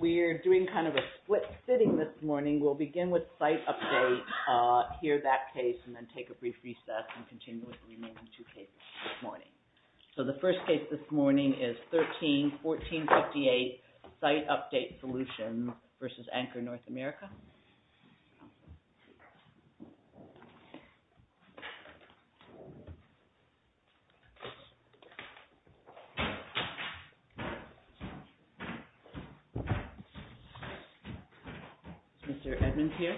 We're doing kind of a split sitting this morning. We'll begin with Site Update, hear that case, and then take a brief recess and continue with the remaining two cases this morning. So the first case this morning is 13-1458 Site Update Solutions v. Accor North America. Is Mr. Edmonds here?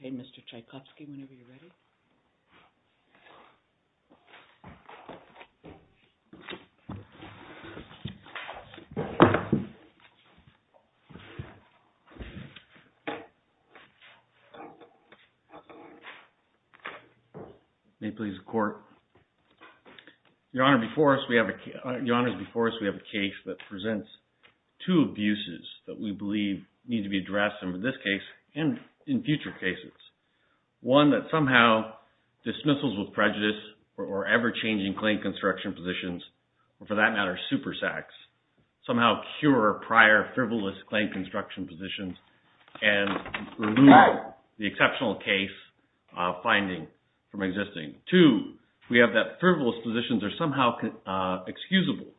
Okay, Mr. Tchaikovsky, whenever you're ready. May it please the Court. Your Honor, before us we have a case that presents two abuses that we believe need to be addressed in this case and in future cases. One, that somehow dismissals with prejudice or ever-changing claim construction positions, or for that matter, supersax, somehow cure prior frivolous claim construction positions and remove the exceptional case finding from existing. Two, we have that frivolous positions are somehow excusable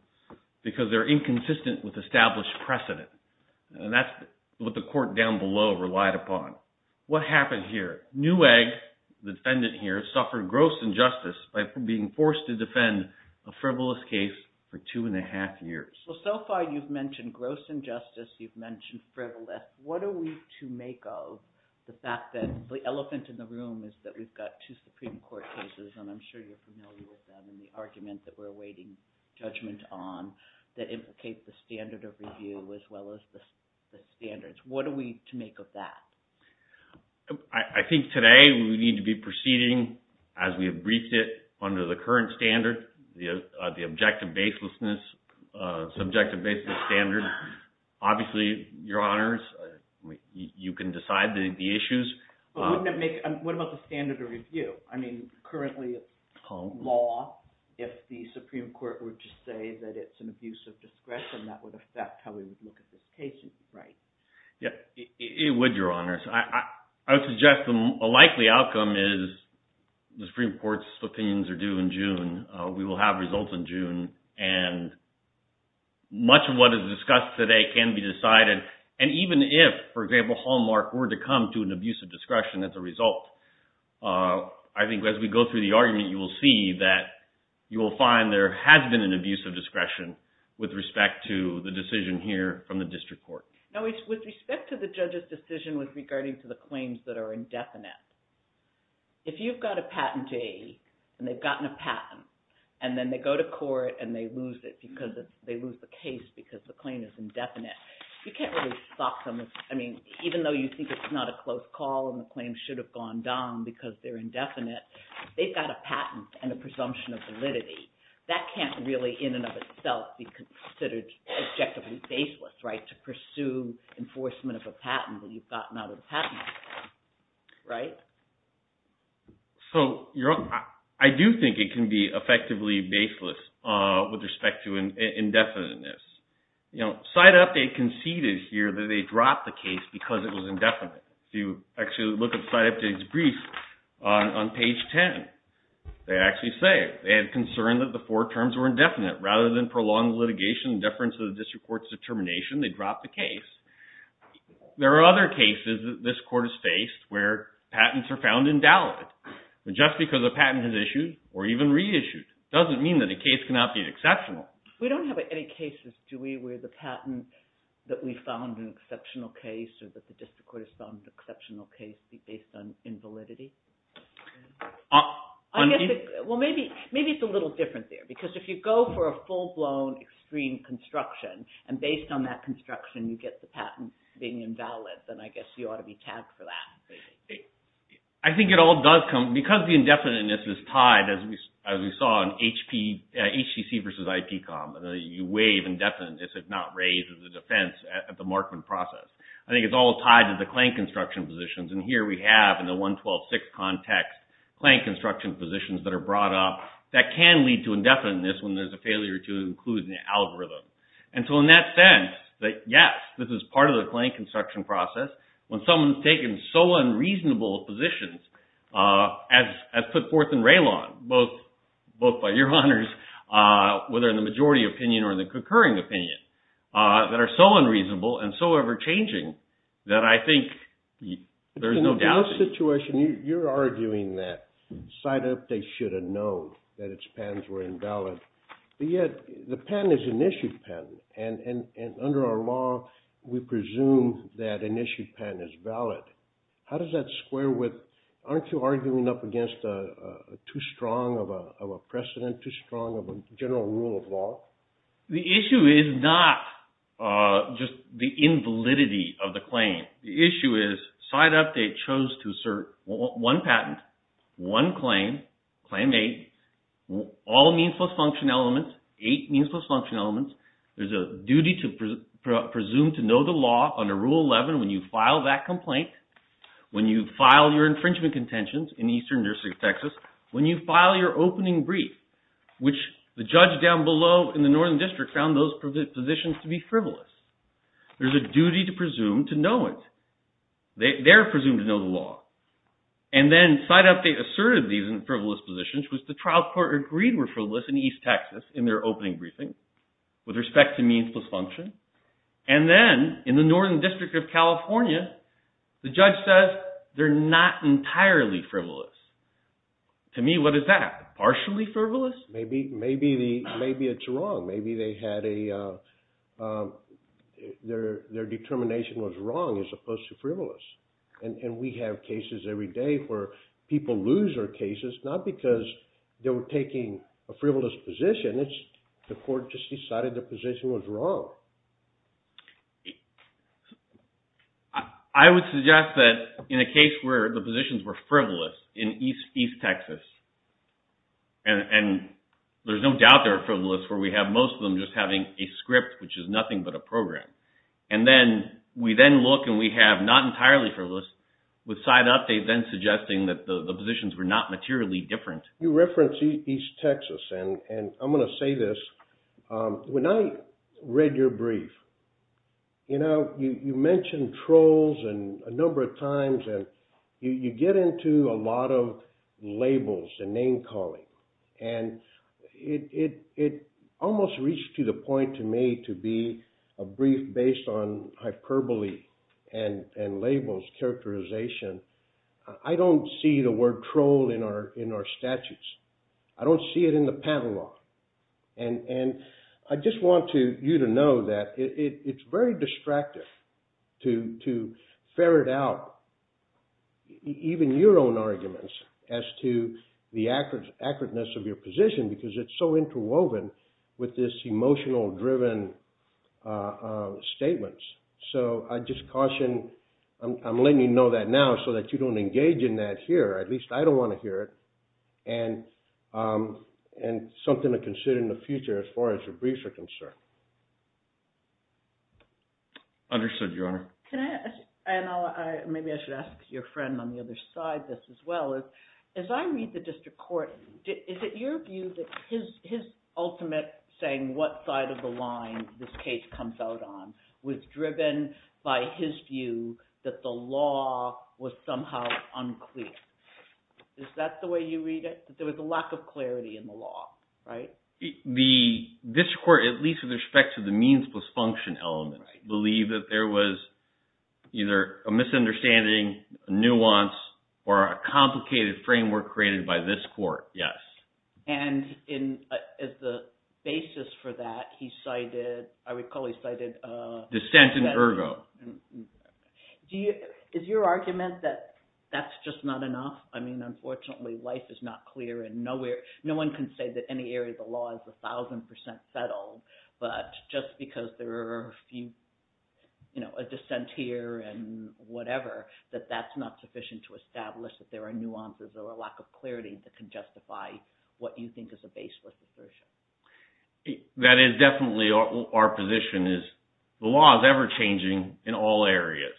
because they're inconsistent with established precedent. And that's what the Court down below relied upon. What happened here? Newegg, the defendant here, suffered gross injustice by being forced to defend a frivolous case for two and a half years. So far you've mentioned gross injustice, you've mentioned frivolous. What are we to make of the fact that the elephant in the room is that we've got two Supreme Court cases, and I'm sure you're familiar with them, and the argument that we're awaiting judgment on that implicate the standard of review as well as the standards. What are we to make of that? I think today we need to be proceeding as we have briefed it under the current standard, the objective baselessness, subjective baseless standard. Obviously, Your Honors, you can decide the issues. But wouldn't that make – what about the standard of review? I mean, currently, law, if the Supreme Court were to say that it's an abuse of discretion, that would affect how we would look at this case, right? It would, Your Honors. I would suggest a likely outcome is the Supreme Court's opinions are due in June. We will have results in June. And much of what is discussed today can be decided. And even if, for example, Hallmark were to come to an abuse of discretion as a result, I think as we go through the argument, you will see that you will find there has been an abuse of discretion with respect to the decision here from the district court. With respect to the judge's decision regarding the claims that are indefinite, if you've got a patentee and they've gotten a patent and then they go to court and they lose it because they lose the case because the claim is indefinite, you can't really stop them. I mean, even though you think it's not a close call and the claim should have gone down because they're indefinite, they've got a patent and a presumption of validity. That can't really in and of itself be considered objectively baseless, right, to pursue enforcement of a patent when you've gotten out of the patent, right? So I do think it can be effectively baseless with respect to indefiniteness. You know, side update conceded here that they dropped the case because it was indefinite. If you actually look at side update's brief on page 10, they actually say they had concern that the four terms were indefinite. Rather than prolong litigation and deference of the district court's determination, they dropped the case. There are other cases that this court has faced where patents are found in doubt. Just because a patent is issued or even reissued doesn't mean that the case cannot be exceptional. We don't have any cases, do we, where the patent that we found an exceptional case or that the district court has found an exceptional case is based on invalidity? Well, maybe it's a little different there because if you go for a full-blown extreme construction and based on that construction you get the patent being invalid, then I guess you ought to be tagged for that. I think it all does come, because the indefiniteness is tied, as we saw in HCC versus IPCOM, you waive indefiniteness if not raised as a defense at the Markman process. I think it's all tied to the Klang construction positions and here we have in the 112.6 context Klang construction positions that are brought up that can lead to indefiniteness when there's a failure to include an algorithm. In that sense, yes, this is part of the Klang construction process. When someone's taken so unreasonable positions as put forth in Raylon, both by your honors, whether in the majority opinion or the concurring opinion, that are so unreasonable and so ever-changing that I think there's no doubt. In this situation, you're arguing that Site Update should have known that its patents were invalid, but yet the patent is an issued patent and under our law we presume that an issued patent is valid. How does that square with, aren't you arguing up against too strong of a precedent, too strong of a general rule of law? The issue is not just the invalidity of the claim. The issue is Site Update chose to assert one patent, one claim, Claim 8, all means-plus-function elements, eight means-plus-function elements. There's a duty to presume to know the law under Rule 11 when you file that complaint, when you file your infringement contentions in Eastern New Jersey, Texas, when you file your opening brief, which the judge down below in the Northern District found those positions to be frivolous. There's a duty to presume to know it. They're presumed to know the law. And then Site Update asserted these frivolous positions, which the trial court agreed were frivolous in East Texas in their opening briefing with respect to means-plus-function. And then in the Northern District of California, the judge says they're not entirely frivolous. To me, what is that? Partially frivolous? Maybe it's wrong. Maybe their determination was wrong as opposed to frivolous. And we have cases every day where people lose their cases not because they were taking a frivolous position. It's the court just decided the position was wrong. I would suggest that in a case where the positions were frivolous in East Texas, and there's no doubt they're frivolous, where we have most of them just having a script, which is nothing but a program. And then we then look and we have not entirely frivolous with Site Update then suggesting that the positions were not materially different. You referenced East Texas. And I'm going to say this. When I read your brief, you mentioned trolls a number of times. And you get into a lot of labels and name calling. And it almost reached to the point to me to be a brief based on hyperbole and labels characterization. I don't see the word troll in our statutes. I don't see it in the panel law. And I just want you to know that it's very distractive to ferret out even your own arguments as to the accurateness of your position because it's so interwoven with this emotional driven statements. So I just caution, I'm letting you know that now so that you don't engage in that here. At least I don't want to hear it. And something to consider in the future as far as your briefs are concerned. Understood, Your Honor. And maybe I should ask your friend on the other side this as well. As I read the district court, is it your view that his ultimate saying what side of the line this case comes out on was driven by his view that the law was somehow unclear? Is that the way you read it? That there was a lack of clarity in the law, right? The district court, at least with respect to the means plus function element, believe that there was either a misunderstanding, nuance, or a complicated framework created by this court, yes. And as the basis for that, he cited – I recall he cited… Dissent in ergo. Is your argument that that's just not enough? I mean, unfortunately, life is not clear and nowhere – no one can say that any area of the law is 1,000% settled. But just because there are a few – a dissent here and whatever, that that's not sufficient to establish that there are nuances or a lack of clarity that can justify what you think is a baseless assertion. That is definitely our position is the law is ever-changing in all areas.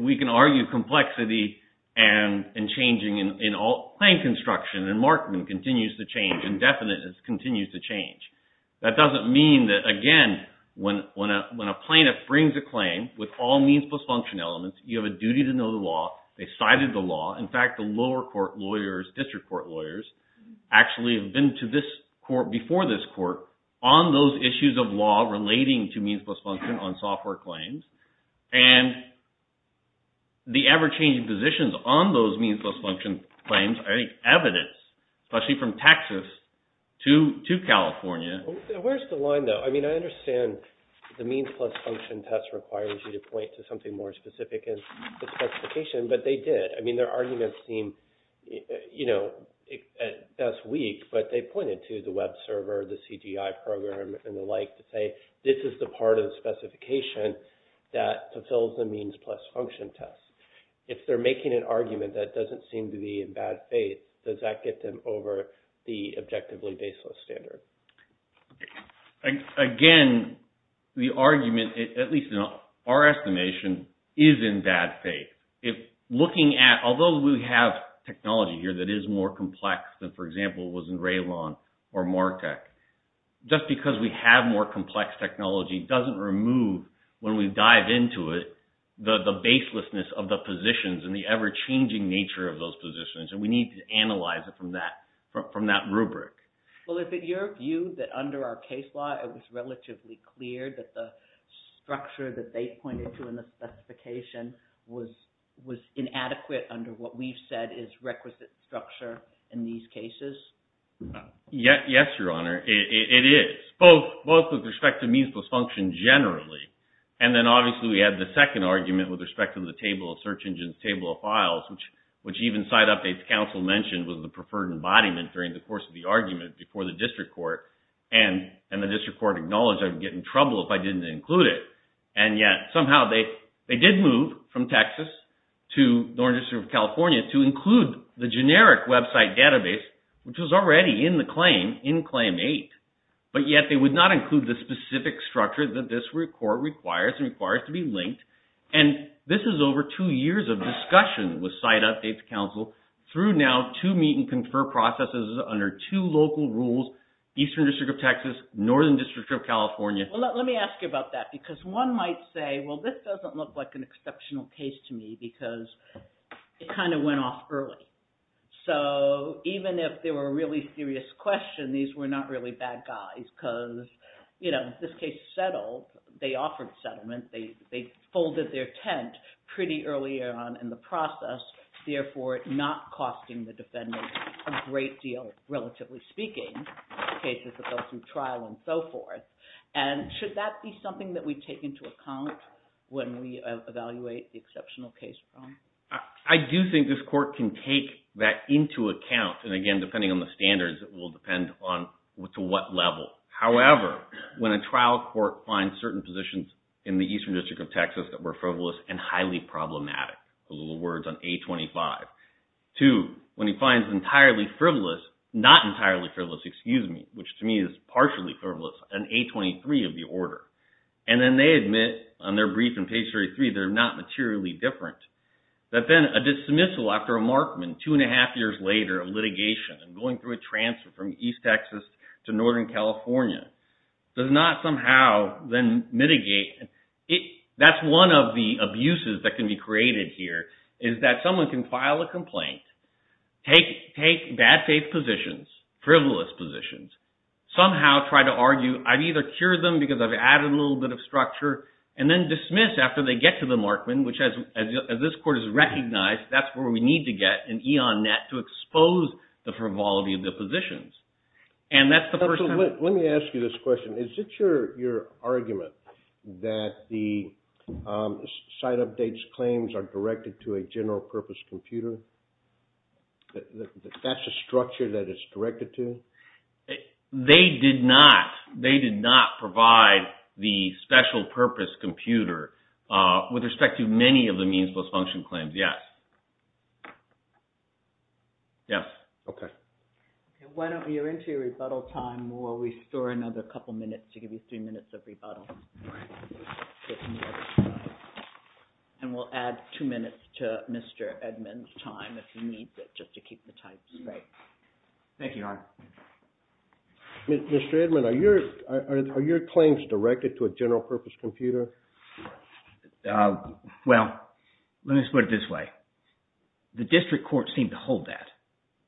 We can argue complexity and changing in all – claim construction and markment continues to change. Indefiniteness continues to change. That doesn't mean that, again, when a plaintiff brings a claim with all means plus function elements, you have a duty to know the law. They cited the law. In fact, the lower court lawyers, district court lawyers, actually have been to this court – before this court on those issues of law relating to means plus function on software claims. And the ever-changing positions on those means plus function claims are evidence, especially from Texas to California. Where's the line, though? I mean, I understand the means plus function test requires you to point to something more specific in the specification, but they did. I mean, their arguments seem – that's weak, but they pointed to the web server, the CGI program, and the like to say this is the part of the specification that fulfills the means plus function test. If they're making an argument that doesn't seem to be in bad faith, does that get them over the objectively baseless standard? Well, if it's your view that under our case law, it was relatively clear that the structure that they pointed to in the specification was inadequate under what we've said is requisite structure in these cases? Yes, Your Honor, it is. Both with respect to means plus function generally, and then obviously we had the second argument with respect to the table of search engines, table of files, which even side updates counsel mentioned was the preferred embodiment during the course of the argument before the district court. And the district court acknowledged I would get in trouble if I didn't include it, and yet somehow they did move from Texas to Northern District of California to include the generic website database, which was already in the claim, in Claim 8, but yet they would not include the specific structure that this court requires and requires to be linked. And this is over two years of discussion with side updates counsel through now two meet and confer processes under two local rules, Eastern District of Texas, Northern District of California. Well, let me ask you about that because one might say, well, this doesn't look like an exceptional case to me because it kind of went off early. So even if there were really serious questions, these were not really bad guys because this case settled. They offered settlement. They folded their tent pretty early on in the process, therefore not costing the defendant a great deal, relatively speaking, in cases that go through trial and so forth. And should that be something that we take into account when we evaluate the exceptional case? I do think this court can take that into account. And again, depending on the standards, it will depend on to what level. However, when a trial court finds certain positions in the Eastern District of Texas that were frivolous and highly problematic, those are the words on A25. Two, when it finds entirely frivolous, not entirely frivolous, excuse me, which to me is partially frivolous, on A23 of the order. And then they admit on their brief in page 33 they're not materially different. That then a dismissal after a markman two and a half years later of litigation and going through a transfer from East Texas to Northern California does not somehow then mitigate. That's one of the abuses that can be created here is that someone can file a complaint, take bad faith positions, frivolous positions, somehow try to argue, I've either cured them because I've added a little bit of structure, and then dismiss after they get to the markman, which as this court has recognized, that's where we need to get an eon net to expose the frivolity of the positions. Let me ask you this question. Is it your argument that the site updates claims are directed to a general purpose computer? That's the structure that it's directed to? They did not. They did not provide the special purpose computer with respect to many of the means plus function claims, yes. Why don't you enter your rebuttal time while we store another couple minutes to give you three minutes of rebuttal. And we'll add two minutes to Mr. Edmond's time if he needs it, just to keep the time straight. Thank you. Mr. Edmond, are your claims directed to a general purpose computer? Well, let me just put it this way. The district court seemed to hold that.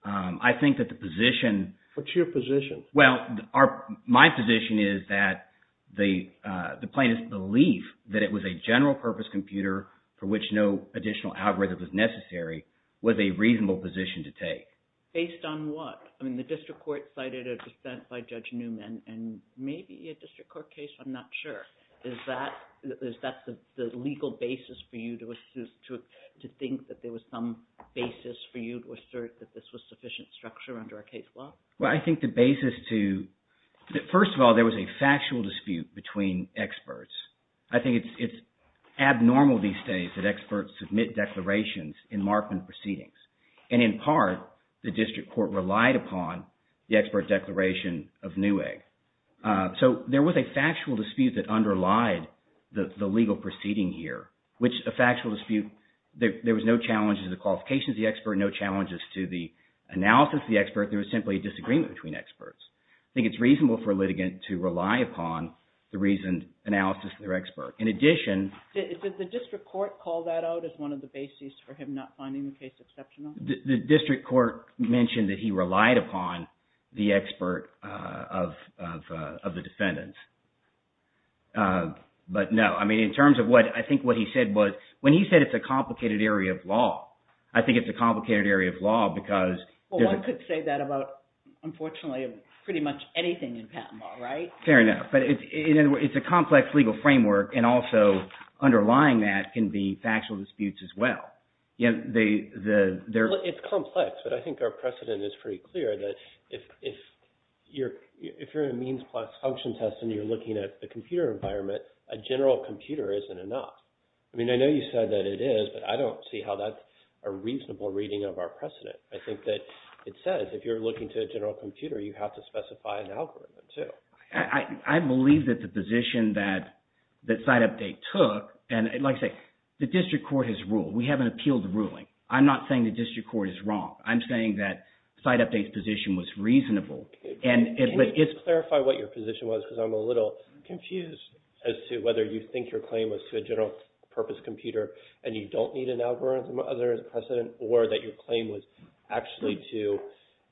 I think that the position… What's your position? Well, my position is that the plaintiff's belief that it was a general purpose computer for which no additional algorithm was necessary was a reasonable position to take. Based on what? I mean, the district court cited a dissent by Judge Newman and maybe a district court case, I'm not sure. Is that the legal basis for you to think that there was some basis for you to assert that this was sufficient structure under a case law? Well, I think the basis to – first of all, there was a factual dispute between experts. I think it's abnormal these days that experts submit declarations in Markman proceedings. And in part, the district court relied upon the expert declaration of Newegg. So there was a factual dispute that underlied the legal proceeding here, which – a factual dispute. I think there was no challenges to the qualifications of the expert, no challenges to the analysis of the expert. There was simply a disagreement between experts. I think it's reasonable for a litigant to rely upon the reasoned analysis of their expert. In addition… Did the district court call that out as one of the basis for him not finding the case exceptional? The district court mentioned that he relied upon the expert of the defendants. But no. I mean, in terms of what – I think what he said was – when he said it's a complicated area of law, I think it's a complicated area of law because… Well, one could say that about, unfortunately, pretty much anything in patent law, right? Fair enough. But it's a complex legal framework, and also underlying that can be factual disputes as well. It's complex, but I think our precedent is pretty clear that if you're a means plus function test and you're looking at the computer environment, a general computer isn't enough. I mean, I know you said that it is, but I don't see how that's a reasonable reading of our precedent. I think that it says if you're looking to a general computer, you have to specify an algorithm too. I believe that the position that SiteUpdate took – and like I say, the district court has ruled. We haven't appealed the ruling. I'm not saying the district court is wrong. I'm saying that SiteUpdate's position was reasonable. Can you just clarify what your position was because I'm a little confused as to whether you think your claim was to a general purpose computer and you don't need an algorithm? Or that your claim was actually to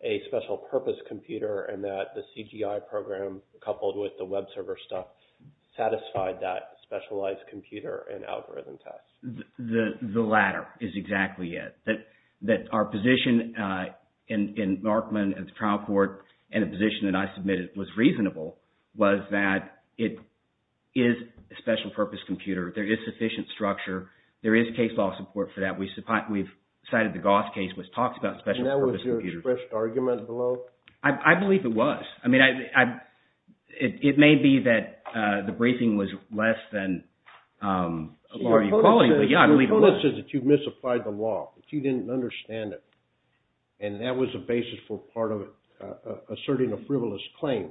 a special purpose computer and that the CGI program coupled with the web server stuff satisfied that specialized computer and algorithm test? The latter is exactly it, that our position in Markman and the trial court and the position that I submitted was reasonable was that it is a special purpose computer. There is sufficient structure. There is case law support for that. We've cited the Goss case, which talks about special purpose computers. And that was your expressed argument below? I believe it was. I mean, it may be that the briefing was less than your equality briefing. Yeah, I believe it was. The code says that you misapplied the law, that you didn't understand it, and that was the basis for part of asserting a frivolous claim.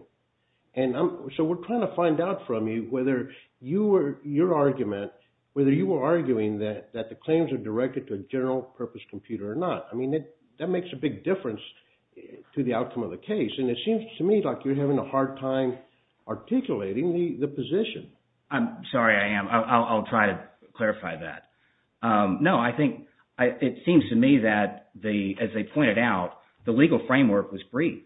And so we're trying to find out from you whether your argument – whether you were arguing that the claims are directed to a general purpose computer or not. I mean, that makes a big difference to the outcome of the case, and it seems to me like you're having a hard time articulating the position. I'm sorry I am. I'll try to clarify that. No, I think – it seems to me that, as they pointed out, the legal framework was briefed.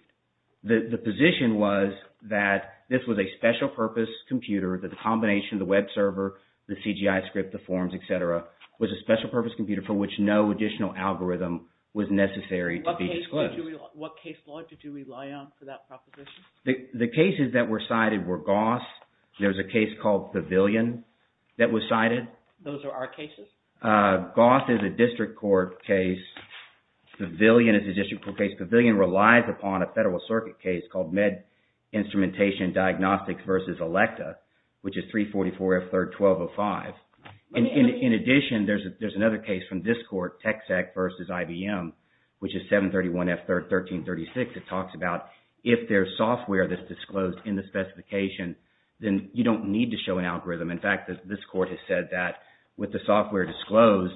The position was that this was a special purpose computer, that the combination of the web server, the CGI script, the forms, etc. was a special purpose computer for which no additional algorithm was necessary to be disclosed. What case law did you rely on for that proposition? The cases that were cited were Goss. There's a case called Pavilion that was cited. Those are our cases? Goss is a district court case. Pavilion is a district court case. Pavilion relies upon a Federal Circuit case called Med Instrumentation Diagnostics v. Electa, which is 344F3-1205. In addition, there's another case from this court, Texec v. IBM, which is 731F13-36. It talks about if there's software that's disclosed in the specification, then you don't need to show an algorithm. In fact, this court has said that with the software disclosed,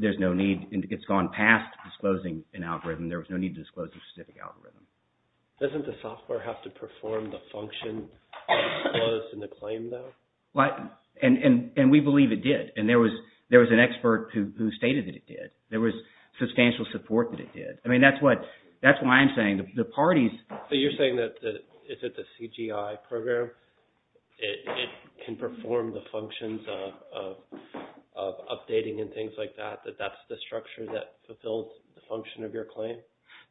there's no need – it's gone past disclosing an algorithm. There was no need to disclose a specific algorithm. Doesn't the software have to perform the function of disclosing the claim, though? And we believe it did, and there was an expert who stated that it did. There was substantial support that it did. I mean, that's what – that's why I'm saying the parties – So you're saying that if it's a CGI program, it can perform the functions of updating and things like that, that that's the structure that fulfills the function of your claim?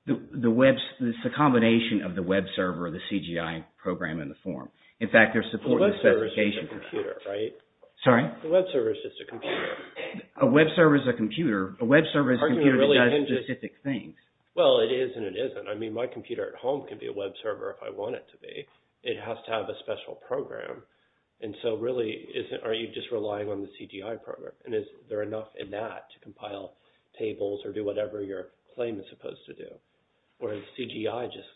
The web – it's a combination of the web server, the CGI program, and the form. In fact, there's support in the specification. The web server is just a computer, right? Sorry? The web server is just a computer. A web server is a computer. A web server is a computer that does specific things. Well, it is and it isn't. I mean, my computer at home can be a web server if I want it to be. It has to have a special program. And so really, are you just relying on the CGI program? And is there enough in that to compile tables or do whatever your claim is supposed to do? Or is CGI just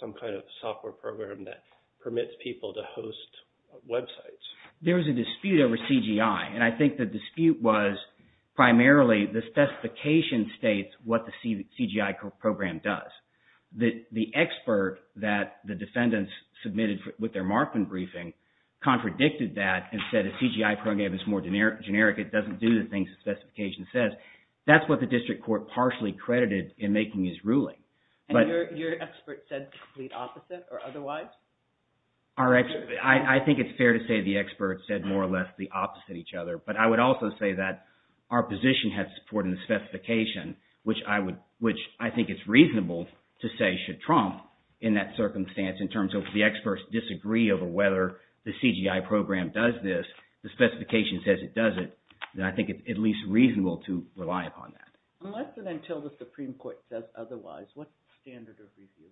some kind of software program that permits people to host websites? There was a dispute over CGI, and I think the dispute was primarily the specification states what the CGI program does. The expert that the defendants submitted with their Markman briefing contradicted that and said a CGI program is more generic. It doesn't do the things the specification says. That's what the district court partially credited in making his ruling. And your expert said the complete opposite or otherwise? I think it's fair to say the expert said more or less the opposite of each other. But I would also say that our position has support in the specification, which I think it's reasonable to say should trump in that circumstance in terms of the experts disagree over whether the CGI program does this. But if the specification says it doesn't, then I think it's at least reasonable to rely upon that. Unless and until the Supreme Court says otherwise, what standard of review?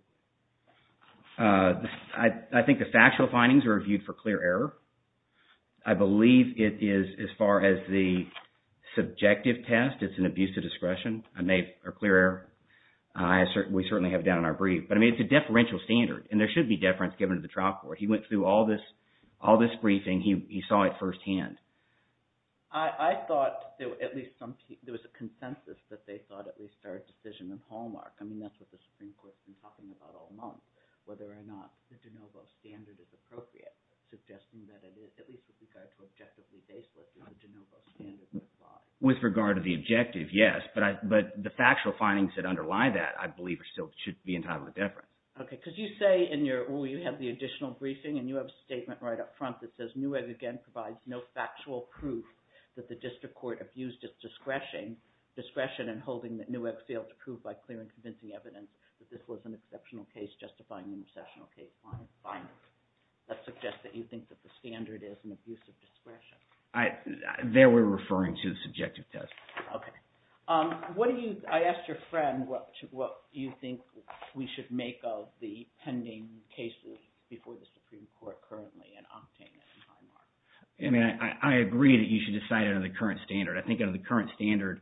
I think the factual findings are reviewed for clear error. I believe it is, as far as the subjective test, it's an abuse of discretion or clear error. We certainly have it down in our brief. But I mean it's a deferential standard, and there should be deference given to the trial court. He went through all this briefing. He saw it firsthand. I thought at least some – there was a consensus that they thought at least our decision in Hallmark. I mean that's what the Supreme Court has been talking about all month, whether or not the de novo standard is appropriate, suggesting that it is, at least with regard to objectively baseless, the de novo standard applies. With regard to the objective, yes. But the factual findings that underlie that I believe are still – should be entirely deferent. Okay, because you say in your – well, you have the additional briefing, and you have a statement right up front that says, Newegg again provides no factual proof that the district court abused its discretion in holding that Newegg failed to prove by clear and convincing evidence that this was an exceptional case justifying an exceptional case on its findings. That suggests that you think that the standard is an abuse of discretion. There we're referring to the subjective test. Okay. What do you – I asked your friend what do you think we should make of the pending case before the Supreme Court currently in Octane and Hallmark. I mean I agree that you should decide under the current standard. I think under the current standard,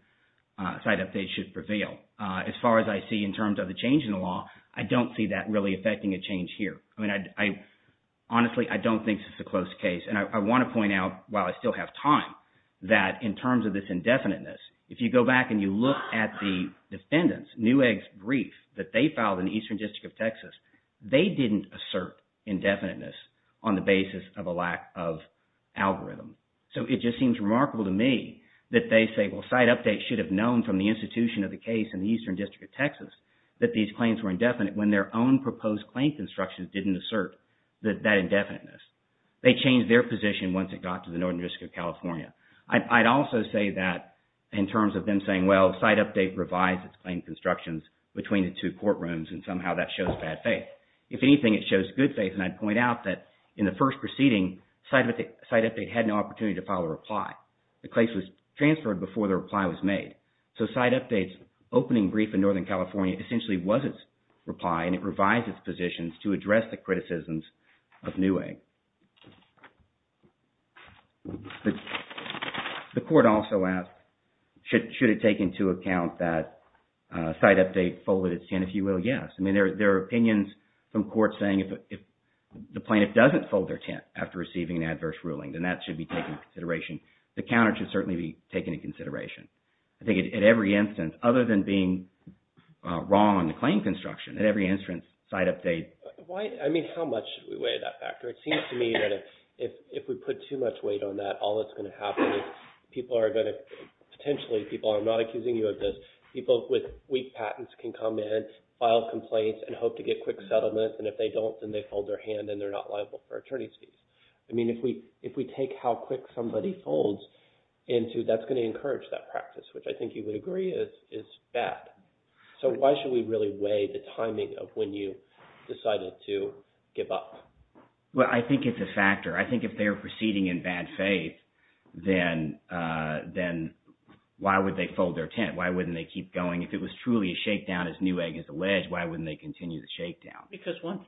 site updates should prevail. As far as I see in terms of the change in the law, I don't see that really affecting a change here. I mean I – honestly, I don't think this is a close case. And I want to point out, while I still have time, that in terms of this indefiniteness, if you go back and you look at the defendants, Newegg's brief that they filed in the Eastern District of Texas, they didn't assert indefiniteness on the basis of a lack of algorithm. So it just seems remarkable to me that they say, well, site updates should have known from the institution of the case in the Eastern District of Texas that these claims were indefinite when their own proposed claims instructions didn't assert that indefiniteness. They changed their position once it got to the Northern District of California. I'd also say that in terms of them saying, well, site update revised its claim constructions between the two courtrooms, and somehow that shows bad faith. If anything, it shows good faith, and I'd point out that in the first proceeding, site update had no opportunity to file a reply. The case was transferred before the reply was made. So site update's opening brief in Northern California essentially was its reply, and it revised its positions to address the criticisms of Newegg. The court also asked, should it take into account that site update folded its tent? If you will, yes. I mean, there are opinions from courts saying if the plaintiff doesn't fold their tent after receiving an adverse ruling, then that should be taken into consideration. The counter should certainly be taken into consideration. I think at every instance, other than being wrong on the claim construction, at every instance, site update… Why – I mean, how much should we weigh that factor? It seems to me that if we put too much weight on that, all that's going to happen is people are going to – potentially people – I'm not accusing you of this. People with weak patents can come in, file complaints, and hope to get quick settlements, and if they don't, then they fold their hand, and they're not liable for attorney's fees. I mean, if we take how quick somebody folds into – that's going to encourage that practice, which I think you would agree is bad. So why should we really weigh the timing of when you decided to give up? Well, I think it's a factor. I think if they're proceeding in bad faith, then why would they fold their tent? Why wouldn't they keep going? If it was truly a shakedown, as Newegg has alleged, why wouldn't they continue the shakedown? Because once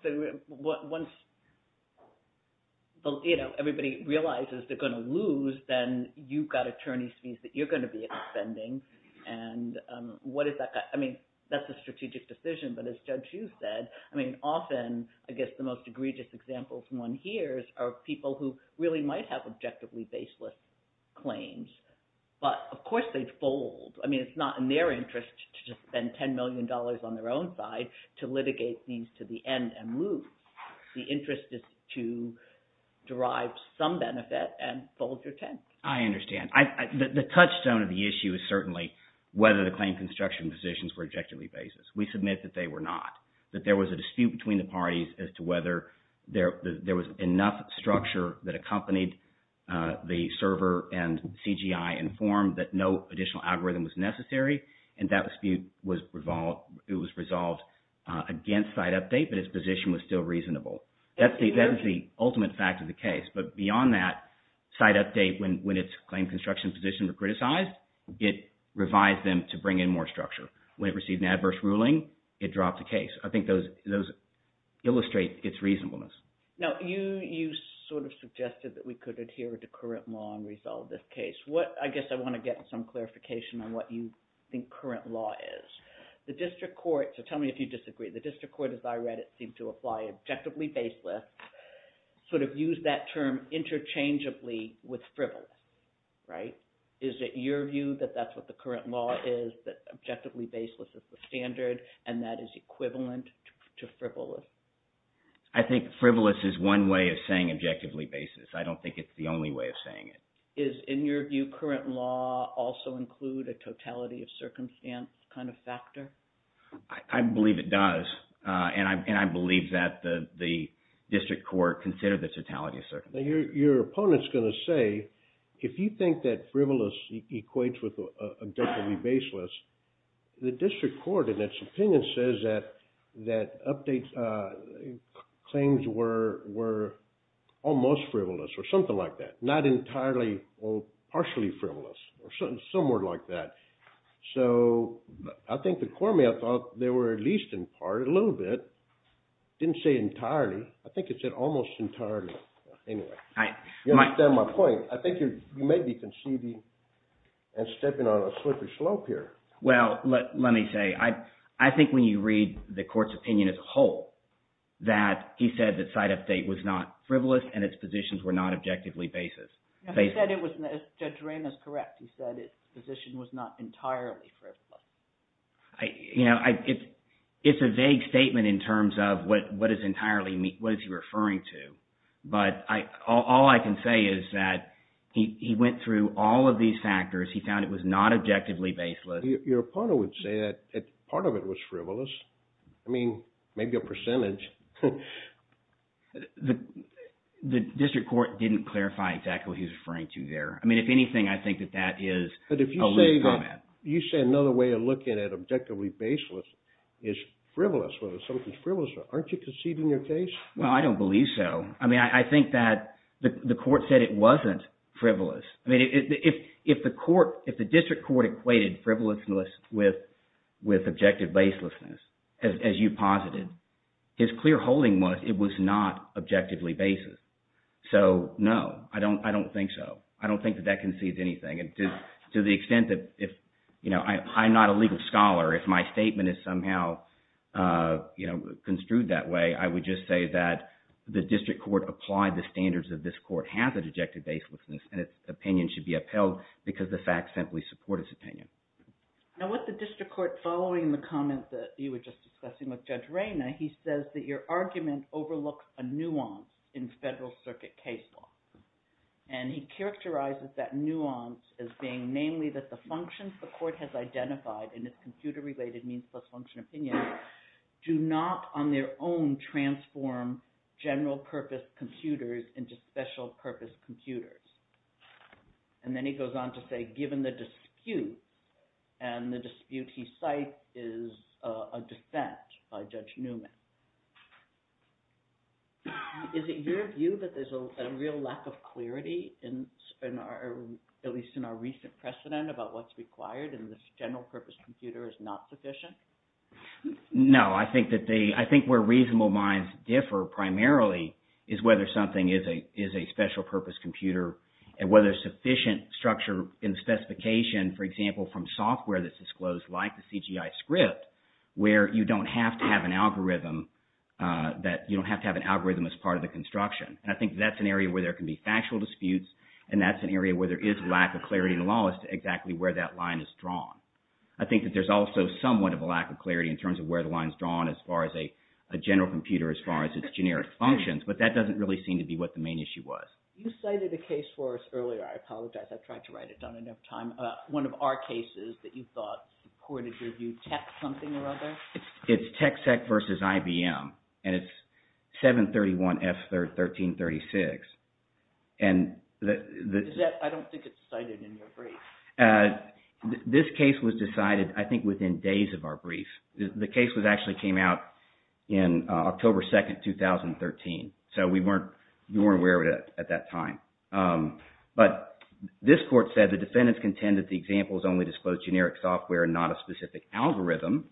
everybody realizes they're going to lose, then you've got attorney's fees that you're going to be expending, and what is that – I mean that's a strategic decision. But as Judge Hughes said, I mean often I guess the most egregious examples one hears are people who really might have objectively baseless claims. But of course they'd fold. I mean it's not in their interest to just spend $10 million on their own side to litigate these to the end and lose. The interest is to derive some benefit and fold your tent. I understand. The touchstone of the issue is certainly whether the claim construction positions were objectively baseless. We submit that they were not, that there was a dispute between the parties as to whether there was enough structure that accompanied the server and CGI informed that no additional algorithm was necessary. And that dispute was – it was resolved against site update, but its position was still reasonable. That is the ultimate fact of the case. But beyond that, site update, when its claim construction position was criticized, it revised them to bring in more structure. When it received an adverse ruling, it dropped the case. I think those illustrate its reasonableness. Now, you sort of suggested that we could adhere to current law and resolve this case. What – I guess I want to get some clarification on what you think current law is. The district court – so tell me if you disagree. The district court, as I read it, seemed to apply objectively baseless, sort of used that term interchangeably with frivolous. Is it your view that that's what the current law is, that objectively baseless is the standard and that is equivalent to frivolous? I think frivolous is one way of saying objectively baseless. I don't think it's the only way of saying it. Is, in your view, current law also include a totality of circumstance kind of factor? I believe it does. And I believe that the district court considered the totality of circumstance. Now, your opponent is going to say if you think that frivolous equates with objectively baseless, the district court, in its opinion, says that claims were almost frivolous or something like that, not entirely or partially frivolous or somewhere like that. So I think the court may have thought they were at least in part, a little bit, didn't say entirely. I think it said almost entirely. Anyway, you understand my point. I think you may be conceding and stepping on a slippery slope here. Well, let me say, I think when you read the court's opinion as a whole, that he said that Site Update was not frivolous and its positions were not objectively baseless. He said it was – Judge Rehn is correct. He said its position was not entirely frivolous. You know, it's a vague statement in terms of what is entirely – what is he referring to. But all I can say is that he went through all of these factors. He found it was not objectively baseless. Your opponent would say that part of it was frivolous. I mean, maybe a percentage. The district court didn't clarify exactly what he was referring to there. I mean, if anything, I think that that is a loose comment. You say another way of looking at objectively baseless is frivolous, whether something is frivolous. Aren't you conceding your case? Well, I don't believe so. I mean, I think that the court said it wasn't frivolous. I mean, if the court – if the district court equated frivolousness with objective baselessness, as you posited, his clear holding was it was not objectively baseless. So, no, I don't think so. I don't think that that concedes anything. To the extent that if – I'm not a legal scholar. If my statement is somehow construed that way, I would just say that the district court applied the standards of this court, has an objective baselessness, and its opinion should be upheld because the facts simply support its opinion. Now, with the district court following the comment that you were just discussing with Judge Reyna, he says that your argument overlooks a nuance in federal circuit case law. And he characterizes that nuance as being namely that the functions the court has identified in its computer-related means-plus-function opinion do not on their own transform general-purpose computers into special-purpose computers. And then he goes on to say, given the dispute, and the dispute he cites is a dissent by Judge Newman, is it your view that there's a real lack of clarity, at least in our recent precedent, about what's required in this general-purpose computer is not sufficient? No, I think that they – I think where reasonable minds differ primarily is whether something is a special-purpose computer and whether sufficient structure and specification, for example, from software that's disclosed like the CGI script, where you don't have to have an algorithm that – you don't have to have an algorithm as part of the construction. And I think that's an area where there can be factual disputes, and that's an area where there is lack of clarity in the law as to exactly where that line is drawn. I think that there's also somewhat of a lack of clarity in terms of where the line is drawn as far as a general computer, as far as its generic functions, but that doesn't really seem to be what the main issue was. You cited a case for us earlier. I apologize. I've tried to write it down. I don't have time. One of our cases that you thought reported, did you tech something or other? It's TechSec versus IBM, and it's 731F1336. Is that – I don't think it's cited in your brief. This case was decided, I think, within days of our brief. The case actually came out in October 2nd, 2013, so we weren't aware of it at that time. But this court said the defendants contend that the examples only disclose generic software and not a specific algorithm,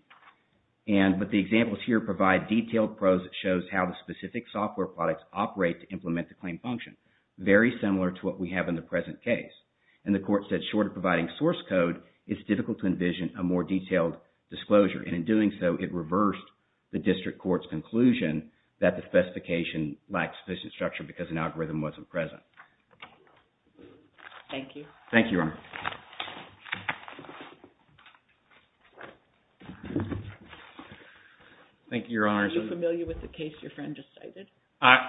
but the examples here provide detailed prose that shows how the specific software products operate to implement the claim function, very similar to what we have in the present case. And the court said, short of providing source code, it's difficult to envision a more detailed disclosure. And in doing so, it reversed the district court's conclusion that the specification lacked sufficient structure because an algorithm wasn't present. Thank you. Thank you, Your Honor. Thank you, Your Honor. Are you familiar with the case your friend just cited? I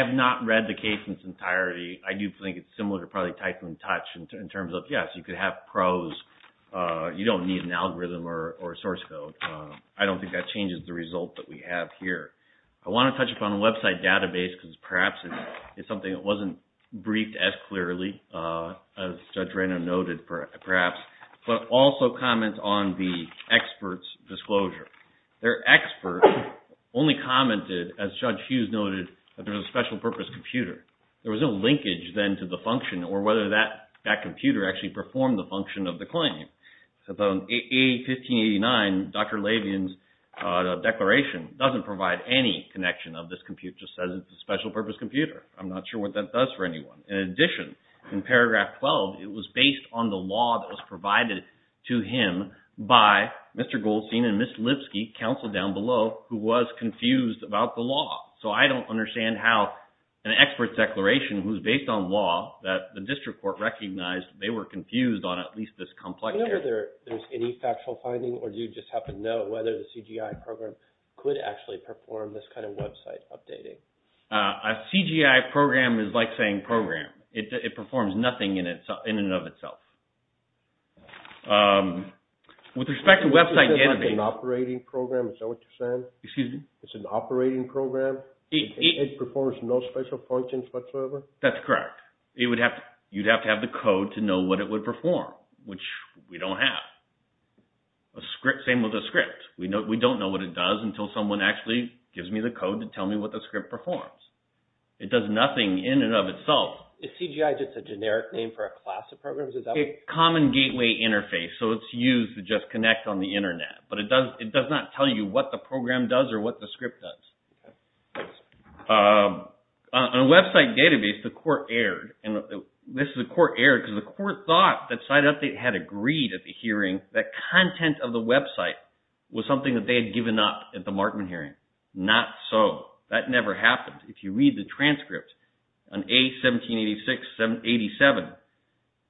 have not read the case in its entirety. I do think it's similar to probably Tycoon Touch in terms of, yes, you could have prose. You don't need an algorithm or source code. I don't think that changes the result that we have here. I want to touch upon the website database because perhaps it's something that wasn't briefed as clearly, as Judge Rano noted perhaps, but also comment on the experts' disclosure. Their expert only commented, as Judge Hughes noted, that there was a special purpose computer. There was no linkage then to the function or whether that computer actually performed the function of the claim. So in A1589, Dr. Levien's declaration doesn't provide any connection of this computer. It just says it's a special purpose computer. I'm not sure what that does for anyone. In addition, in paragraph 12, it was based on the law that was provided to him by Mr. Goldstein and Ms. Lipsky, counsel down below, who was confused about the law. So I don't understand how an expert's declaration was based on law that the district court recognized they were confused on at least this complex case. Whenever there's any factual finding or do you just have to know whether the CGI program could actually perform this kind of website updating? A CGI program is like saying program. It performs nothing in and of itself. With respect to website updating. It's an operating program? Is that what you're saying? Excuse me? It's an operating program? It performs no special functions whatsoever? That's correct. You'd have to have the code to know what it would perform, which we don't have. Same with a script. We don't know what it does until someone actually gives me the code to tell me what the script performs. It does nothing in and of itself. Is CGI just a generic name for a class of programs? It's a common gateway interface, so it's used to just connect on the Internet. But it does not tell you what the program does or what the script does. On a website database, the court erred. This is a court error because the court thought that SiteUpdate had agreed at the hearing that content of the website was something that they had given up at the Markman hearing. Not so. That never happened. If you read the transcript on A1786-87,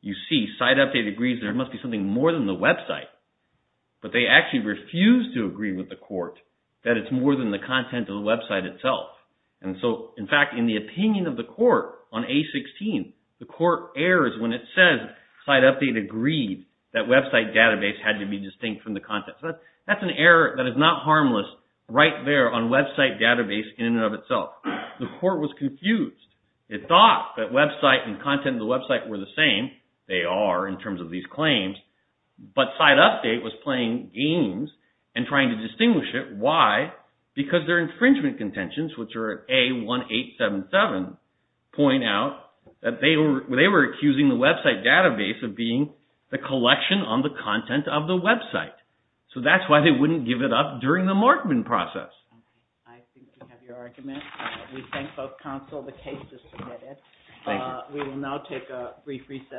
you see SiteUpdate agrees there must be something more than the website. But they actually refused to agree with the court that it's more than the content of the website itself. In fact, in the opinion of the court on A16, the court errors when it says SiteUpdate agreed that website database had to be distinct from the content. That's an error that is not harmless right there on website database in and of itself. The court was confused. It thought that website and content of the website were the same. They are in terms of these claims. But SiteUpdate was playing games and trying to distinguish it. Why? Because their infringement contentions, which are A1877, point out that they were accusing the website database of being the collection on the content of the website. So that's why they wouldn't give it up during the Markman process. I think we have your argument. We thank both counsel. The case is submitted. Thank you. We will now take a brief recess.